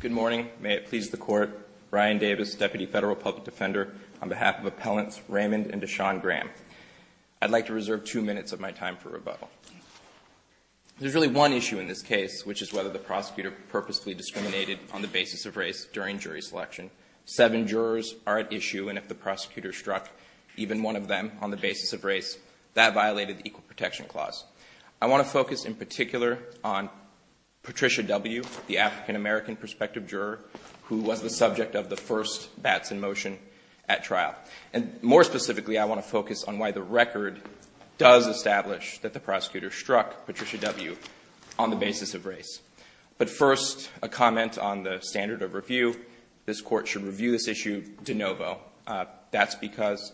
Good morning. May it please the Court, Ryan Davis, Deputy Federal Public Defender, on behalf of Appellants Raymond and DeShawn Graham. I'd like to reserve two minutes of my time for rebuttal. There's really one issue in this case, which is whether the prosecutor purposely discriminated on the basis of race during jury selection. Seven jurors are at issue, and if the prosecutor struck even one of them on the basis of race, that violated the Equal Protection Clause. I want to focus in particular on Patricia W., the African-American prospective juror, who was the subject of the first bats in motion at trial. And more specifically, I want to focus on why the record does establish that the prosecutor struck Patricia W. on the basis of race. But first, a comment on the standard of review. This Court should review this issue de novo. That's because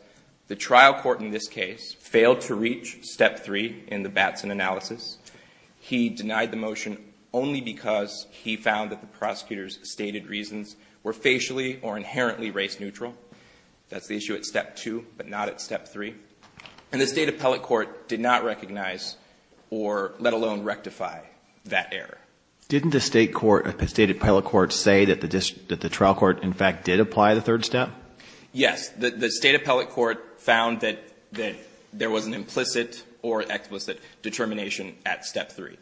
the trial court in this case failed to reach Step 3 in the Batson analysis. He denied the motion only because he found that the prosecutor's stated reasons were facially or inherently race-neutral. That's the issue at Step 2, but not at Step 3. And the State Appellate Court did not recognize or let alone rectify that error. Didn't the State Appellate Court say that the trial court, in fact, did apply the third step? Yes, the State Appellate Court found that there was an implicit or explicit determination at Step 3.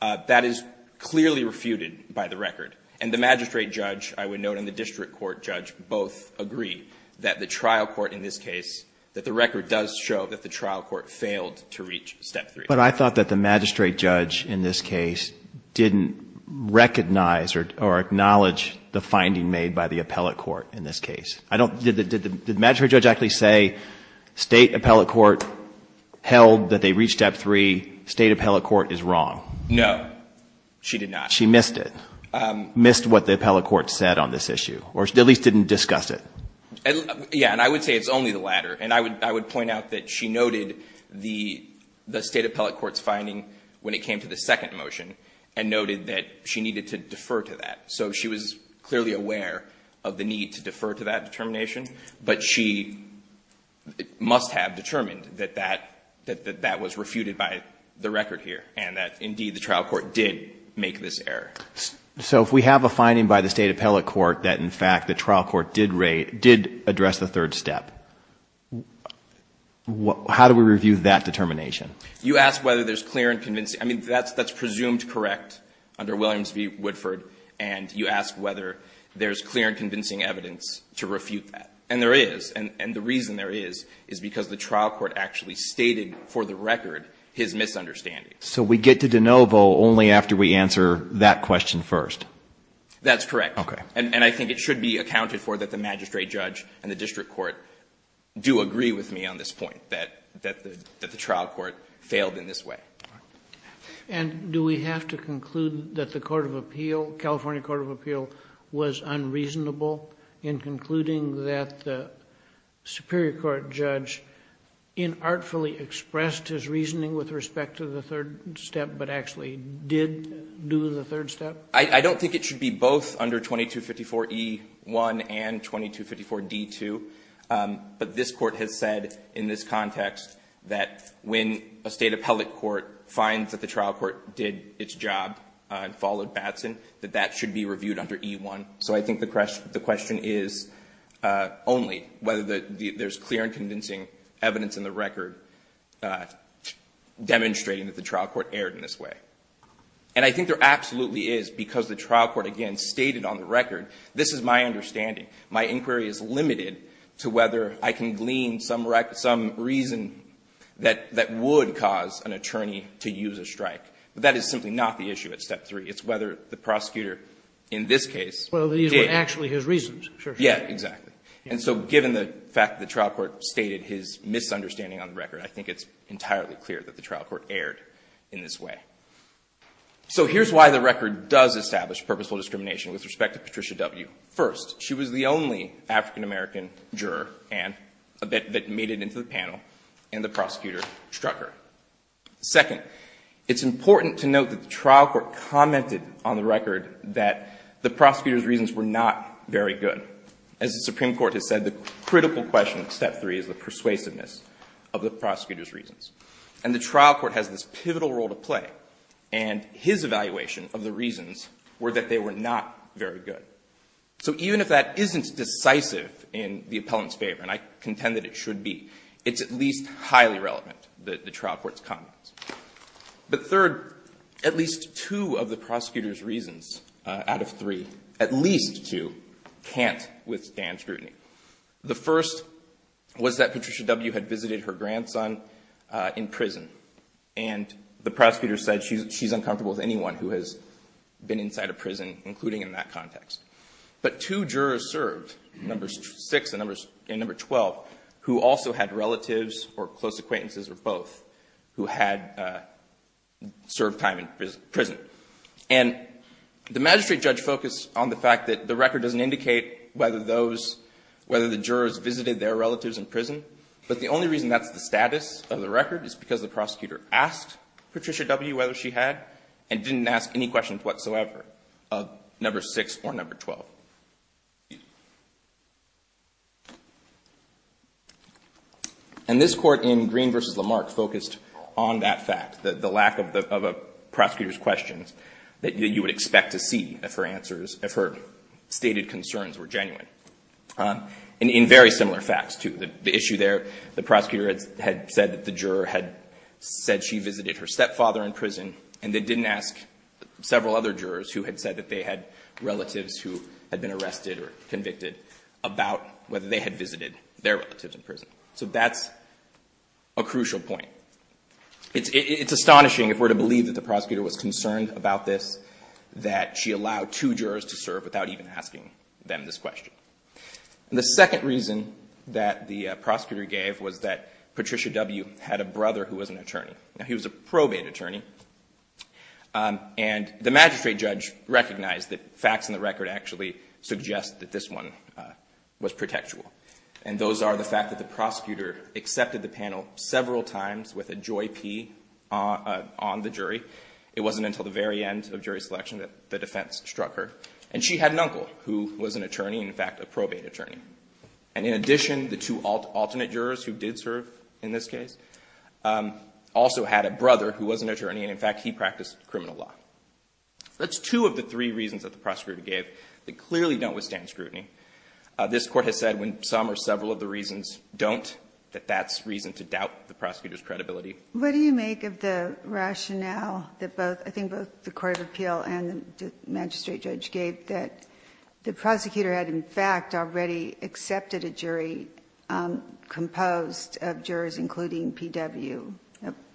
That is clearly refuted by the record. And the magistrate judge, I would note, and the district court judge both agree that the trial court in this case, that the record does show that the trial court failed to reach Step 3. But I thought that the magistrate judge in this case didn't recognize or acknowledge the finding made by the appellate court in this case. I don't, did the magistrate judge actually say, State Appellate Court held that they reached Step 3. State Appellate Court is wrong. No, she did not. She missed it. Missed what the appellate court said on this issue, or at least didn't discuss it. Yeah, and I would say it's only the latter. And I would point out that she noted the State Appellate Court's finding when it came to the second motion. And noted that she needed to defer to that. So she was clearly aware of the need to defer to that determination. But she must have determined that that was refuted by the record here. And that indeed the trial court did make this error. So if we have a finding by the State Appellate Court that in fact the trial court did rate, did address the third step. How do we review that determination? You ask whether there's clear and convincing, I mean, that's presumed correct under Williams v. Woodford, and you ask whether there's clear and convincing evidence to refute that. And there is, and the reason there is, is because the trial court actually stated for the record his misunderstanding. So we get to de novo only after we answer that question first? That's correct. Okay. And I think it should be accounted for that the magistrate judge and the district court do agree with me on this point, that the trial court failed in this way. And do we have to conclude that the California Court of Appeal was unreasonable in concluding that the Superior Court judge inartfully expressed his reasoning with respect to the third step, but actually did do the third step? I don't think it should be both under 2254 E1 and 2254 D2. But this court has said in this context that when a state appellate court finds that the trial court did its job and followed Batson, that that should be reviewed under E1. So I think the question is only whether there's clear and convincing evidence in the record demonstrating that the trial court erred in this way. And I think there absolutely is, because the trial court, again, stated on the record, this is my understanding. My inquiry is limited to whether I can glean some reason that would cause an attorney to use a strike. But that is simply not the issue at step three. It's whether the prosecutor in this case- Well, these were actually his reasons. Yeah, exactly. And so given the fact that the trial court stated his misunderstanding on the record, I think it's entirely clear that the trial court erred in this way. So here's why the record does establish purposeful discrimination with respect to Patricia W. First, she was the only African-American juror, Ann, that made it into the panel, and the prosecutor struck her. Second, it's important to note that the trial court commented on the record that the prosecutor's reasons were not very good. As the Supreme Court has said, the critical question in step three is the persuasiveness of the prosecutor's reasons. And the trial court has this pivotal role to play, and his evaluation of the reasons were that they were not very good. So even if that isn't decisive in the appellant's favor, and I contend that it should be, it's at least highly relevant that the trial court's comments. But third, at least two of the prosecutor's reasons out of three, at least two, can't withstand scrutiny. The first was that Patricia W. had visited her grandson in prison. And the prosecutor said she's uncomfortable with anyone who has been inside a prison, including in that context. But two jurors served, number six and number 12, who also had relatives or close acquaintances or both, who had served time in prison. And the magistrate judge focused on the fact that the record doesn't indicate whether the jurors visited their relatives in prison. But the only reason that's the status of the record is because the prosecutor asked Patricia W. whether she had, and didn't ask any questions whatsoever of number six or number 12. And this court in Green v. Lamarck focused on that fact, the lack of a prosecutor's questions, that you would expect to see if her stated concerns were genuine. And in very similar facts to the issue there, the prosecutor had said that the juror had said she visited her stepfather in prison, and they didn't ask several other jurors who had said that they had relatives who had been arrested or convicted about whether they had visited their relatives in prison. So that's a crucial point. It's astonishing if we're to believe that the prosecutor was concerned about this, that she allowed two jurors to serve without even asking them this question. The second reason that the prosecutor gave was that Patricia W. had a brother who was an attorney. Now, he was a probate attorney. And the magistrate judge recognized that facts in the record actually suggest that this one was protectual. And those are the fact that the prosecutor accepted the panel several times with a joy P on the jury. It wasn't until the very end of jury selection that the defense struck her. And she had an uncle who was an attorney, in fact, a probate attorney. And in addition, the two alternate jurors who did serve in this case also had a brother who was an attorney, and in fact, he practiced criminal law. That's two of the three reasons that the prosecutor gave that clearly don't withstand scrutiny. This court has said when some or several of the reasons don't, that that's reason to doubt the prosecutor's credibility. What do you make of the rationale that both, I think, both the court of appeal and the magistrate judge gave that the prosecutor had, in fact, already accepted a jury composed of jurors including PW,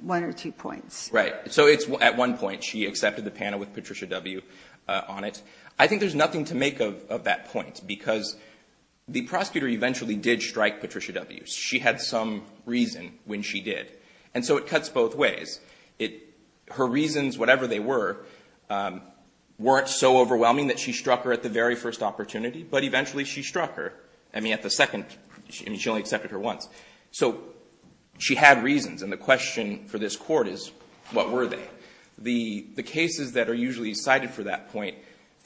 one or two points? Right, so it's at one point she accepted the panel with Patricia W on it. I think there's nothing to make of that point because the prosecutor eventually did strike Patricia W. She had some reason when she did. And so it cuts both ways. Her reasons, whatever they were, weren't so overwhelming that she struck her at the very first opportunity. But eventually she struck her, I mean, at the second, I mean, she only accepted her once. So she had reasons, and the question for this court is, what were they? The cases that are usually cited for that point,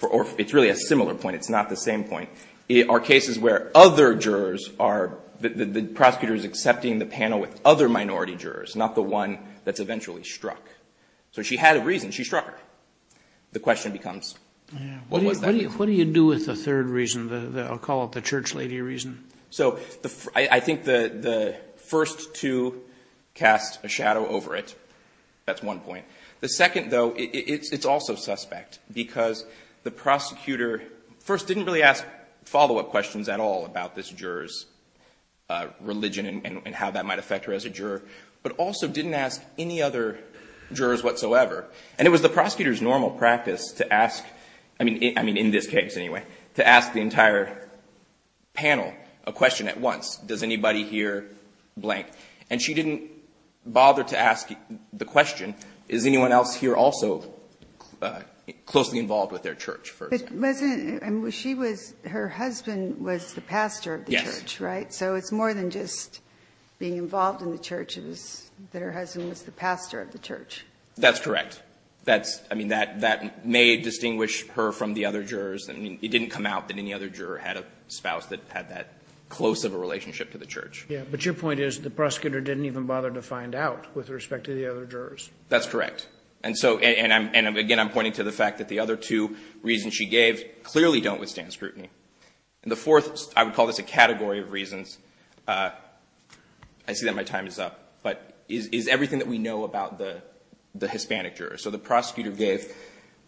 or it's really a similar point, it's not the same point. It are cases where other jurors are, the prosecutor's accepting the panel with other minority jurors, not the one that's eventually struck. So she had a reason, she struck her. The question becomes, what was that reason? What do you do with the third reason, I'll call it the church lady reason? So I think the first two cast a shadow over it. That's one point. The second, though, it's also suspect because the prosecutor first didn't really ask follow-up questions at all about this juror's religion and how that might affect her as a juror. But also didn't ask any other jurors whatsoever. And it was the prosecutor's normal practice to ask, I mean, in this case anyway, to ask the entire panel a question at once. Does anybody here blank? And she didn't bother to ask the question, is anyone else here also closely involved with their church, for example? But wasn't, I mean, she was, her husband was the pastor of the church, right? So it's more than just being involved in the church, it was that her husband was the pastor of the church. That's correct. That's, I mean, that may distinguish her from the other jurors. I mean, it didn't come out that any other juror had a spouse that had that close of a relationship to the church. Yeah, but your point is the prosecutor didn't even bother to find out with respect to the other jurors. That's correct. And so, and again, I'm pointing to the fact that the other two reasons she gave clearly don't withstand scrutiny. And the fourth, I would call this a category of reasons, I see that my time is up. But is everything that we know about the Hispanic juror. So the prosecutor gave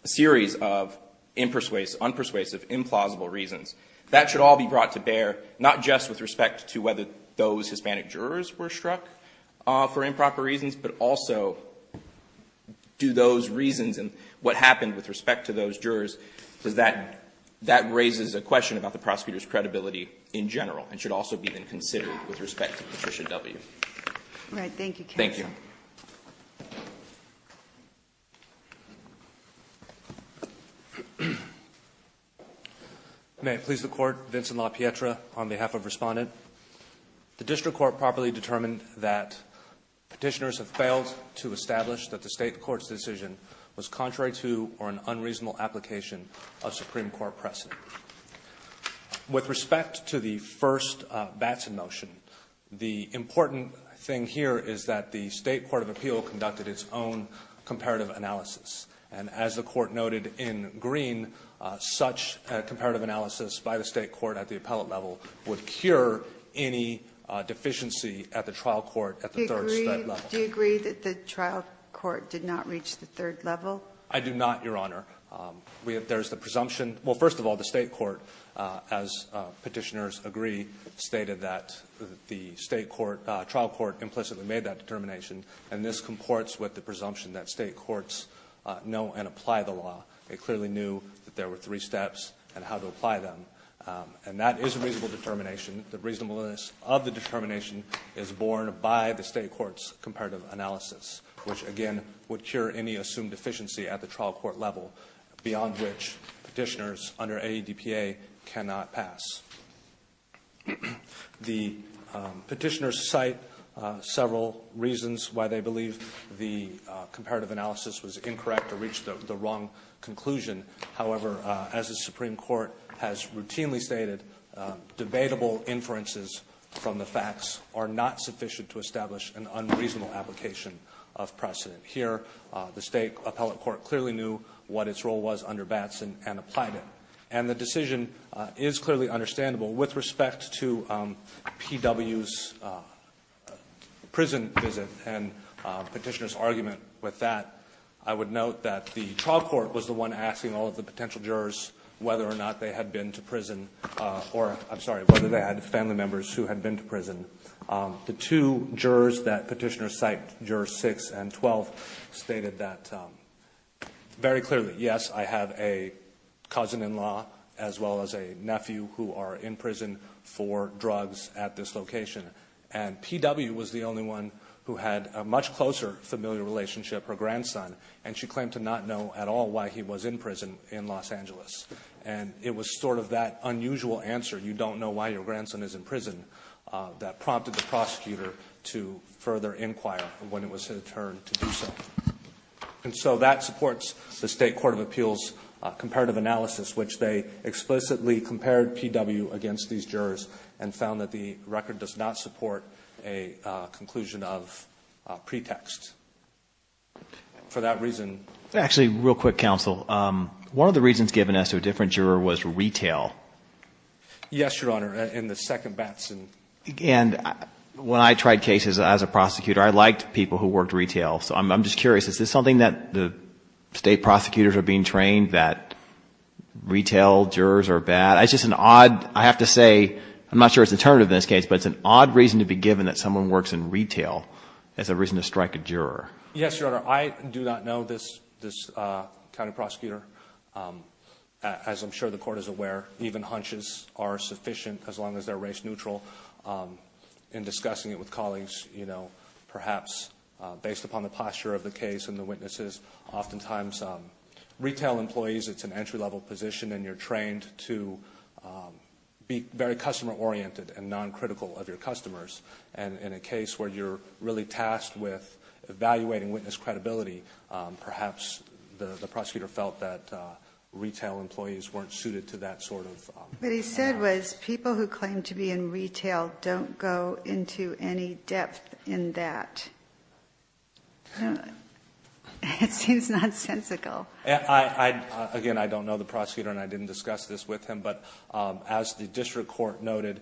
a series of unpersuasive, implausible reasons. That should all be brought to bear, not just with respect to whether those Hispanic jurors were struck for improper reasons. But also, do those reasons and what happened with respect to those jurors, does that, that raises a question about the prosecutor's credibility in general. It should also be then considered with respect to Patricia W. Thank you. May it please the court. Vincent La Pietra on behalf of respondent. The district court properly determined that petitioners have failed to establish that the state court's decision was contrary to or an unreasonable application of Supreme Court precedent. With respect to the first Batson motion, the important thing here is that the state court of appeal conducted its own comparative analysis. And as the court noted in green, such a comparative analysis by the state court at the appellate level would cure any deficiency at the trial court at the third level. Do you agree that the trial court did not reach the third level? I do not, Your Honor. There's the presumption, well, first of all, the state court, as petitioners agree, stated that the state court, trial court implicitly made that determination. And this comports with the presumption that state courts know and apply the law. They clearly knew that there were three steps and how to apply them. And that is a reasonable determination. The reasonableness of the determination is born by the state court's comparative analysis, which again would cure any assumed deficiency at the trial court level beyond which petitioners under AEDPA cannot pass. The petitioners cite several reasons why they believe the comparative analysis was incorrect or reached the wrong conclusion. However, as the Supreme Court has routinely stated, debatable inferences from the facts are not sufficient to establish an unreasonable application of precedent. Here, the state appellate court clearly knew what its role was under Batson and applied it. And the decision is clearly understandable with respect to PW's prison visit and petitioner's argument with that. I would note that the trial court was the one asking all of the potential jurors whether or not they had been to prison. Or, I'm sorry, whether they had family members who had been to prison. The two jurors that petitioners cite, jurors 6 and 12, stated that very clearly, yes, I have a cousin-in-law as well as a nephew who are in prison for drugs at this location. And PW was the only one who had a much closer, familiar relationship, her grandson. And she claimed to not know at all why he was in prison in Los Angeles. And it was sort of that unusual answer, you don't know why your grandson is in prison, that prompted the prosecutor to further inquire when it was his turn to do so. And so that supports the State Court of Appeals comparative analysis, which they explicitly compared PW against these jurors and found that the record does not support a conclusion of pretext. For that reason- Actually, real quick, counsel, one of the reasons given as to a different juror was retail. Yes, Your Honor, in the second Batson. And when I tried cases as a prosecutor, I liked people who worked retail. So I'm just curious, is this something that the state prosecutors are being trained that retail jurors are bad? It's just an odd, I have to say, I'm not sure it's determinative in this case, but it's an odd reason to be given that someone works in retail as a reason to strike a juror. Yes, Your Honor, I do not know this county prosecutor. As I'm sure the court is aware, even hunches are sufficient as long as they're race neutral. In discussing it with colleagues, perhaps based upon the posture of the case and the witnesses, oftentimes retail employees, it's an entry level position and you're trained to be very customer oriented and non-critical of your customers. And in a case where you're really tasked with evaluating witness credibility, perhaps the prosecutor felt that retail employees weren't suited to that sort of- What he said was people who claim to be in retail don't go into any depth in that. It seems nonsensical. Again, I don't know the prosecutor and I didn't discuss this with him, but as the district court noted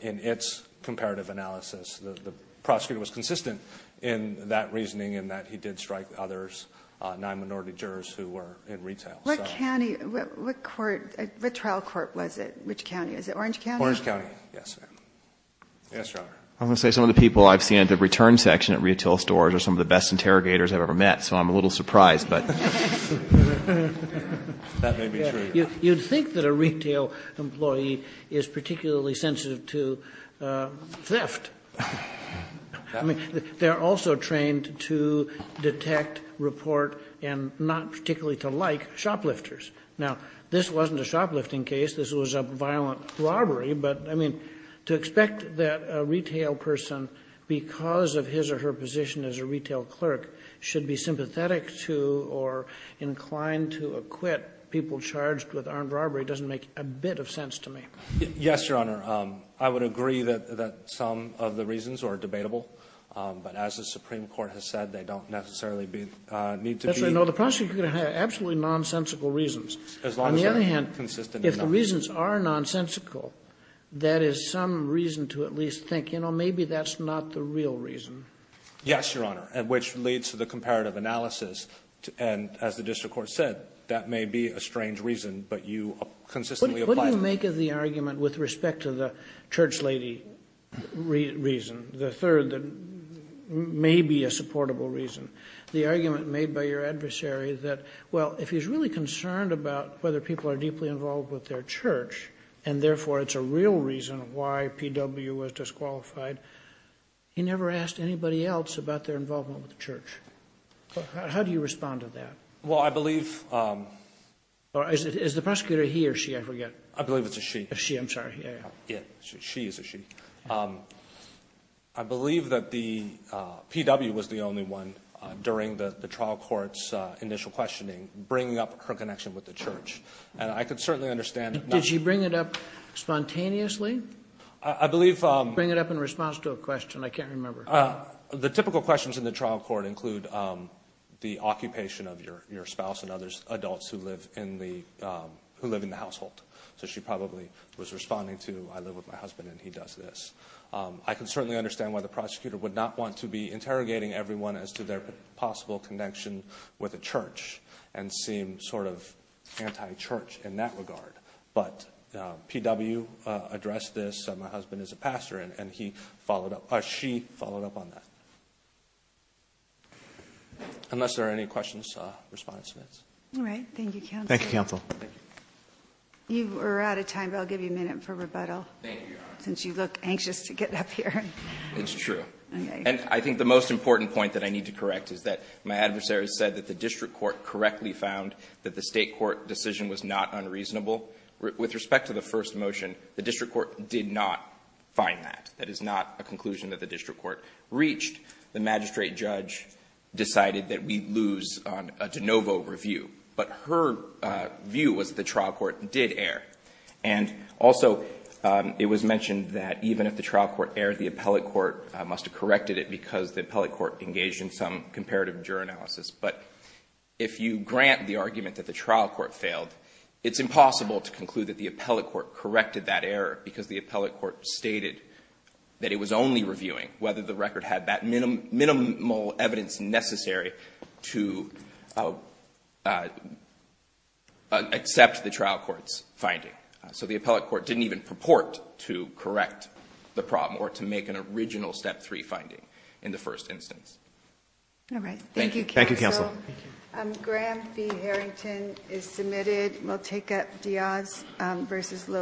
in its comparative analysis, the prosecutor was consistent in that reasoning in that he did strike others, non-minority jurors who were in retail. What county, what trial court was it? Which county? Is it Orange County? Orange County, yes, ma'am. Yes, Your Honor. I'm going to say some of the people I've seen at the return section at retail stores are some of the best interrogators I've ever met, so I'm a little surprised, but. That may be true. You'd think that a retail employee is particularly sensitive to theft. I mean, they're also trained to detect, report, and not particularly to like shoplifters. Now, this wasn't a shoplifting case, this was a violent robbery, but I mean, to expect that a retail person, because of his or her position as a retail clerk, should be sympathetic to or inclined to acquit people charged with armed robbery doesn't make a bit of sense to me. Yes, Your Honor. I would agree that some of the reasons are debatable, but as the Supreme Court has said, they don't necessarily need to be. Yes, I know, the prosecutor could have absolutely nonsensical reasons. On the other hand, if the reasons are nonsensical, that is some reason to at least think, you know, maybe that's not the real reason. Yes, Your Honor, which leads to the comparative analysis. And as the district court said, that may be a strange reason, but you consistently apply to it. What do you make of the argument with respect to the church lady reason, the third, that may be a supportable reason? The argument made by your adversary that, well, if he's really concerned about whether people are deeply involved with their church, and therefore it's a real reason why PW was disqualified, he never asked anybody else about their involvement with the church. How do you respond to that? Well, I believe- Or is the prosecutor he or she, I forget? I believe it's a she. A she, I'm sorry, yeah. Yeah, she is a she. I believe that the PW was the only one during the trial court's initial questioning, bringing up her connection with the church. And I could certainly understand- Did she bring it up spontaneously? I believe- Bring it up in response to a question, I can't remember. The typical questions in the trial court include the occupation of your spouse and other adults who live in the household. So she probably was responding to, I live with my husband and he does this. I can certainly understand why the prosecutor would not want to be interrogating everyone as to their possible connection with a church, and seem sort of anti-church in that regard. But PW addressed this, my husband is a pastor, and he followed up, she followed up on that. Unless there are any questions, respond to this. All right, thank you, counsel. Thank you, counsel. You are out of time, but I'll give you a minute for rebuttal. Thank you, Your Honor. Since you look anxious to get up here. It's true. And I think the most important point that I need to correct is that my adversary said that the district court correctly found that the state court decision was not unreasonable. With respect to the first motion, the district court did not find that. That is not a conclusion that the district court reached. The magistrate judge decided that we'd lose on a de novo review. But her view was the trial court did air. And also, it was mentioned that even if the trial court aired, the appellate court must have corrected it because the appellate court engaged in some comparative juror analysis. But if you grant the argument that the trial court failed, it's impossible to conclude that the appellate court corrected that error because the appellate court stated that it was only reviewing whether the record had that minimal evidence necessary to accept the trial court's finding. So the appellate court didn't even purport to correct the problem or to make an original step three finding in the first instance. All right, thank you. Thank you, counsel. Graham B. Harrington is submitted. We'll take up Diaz versus Lowe.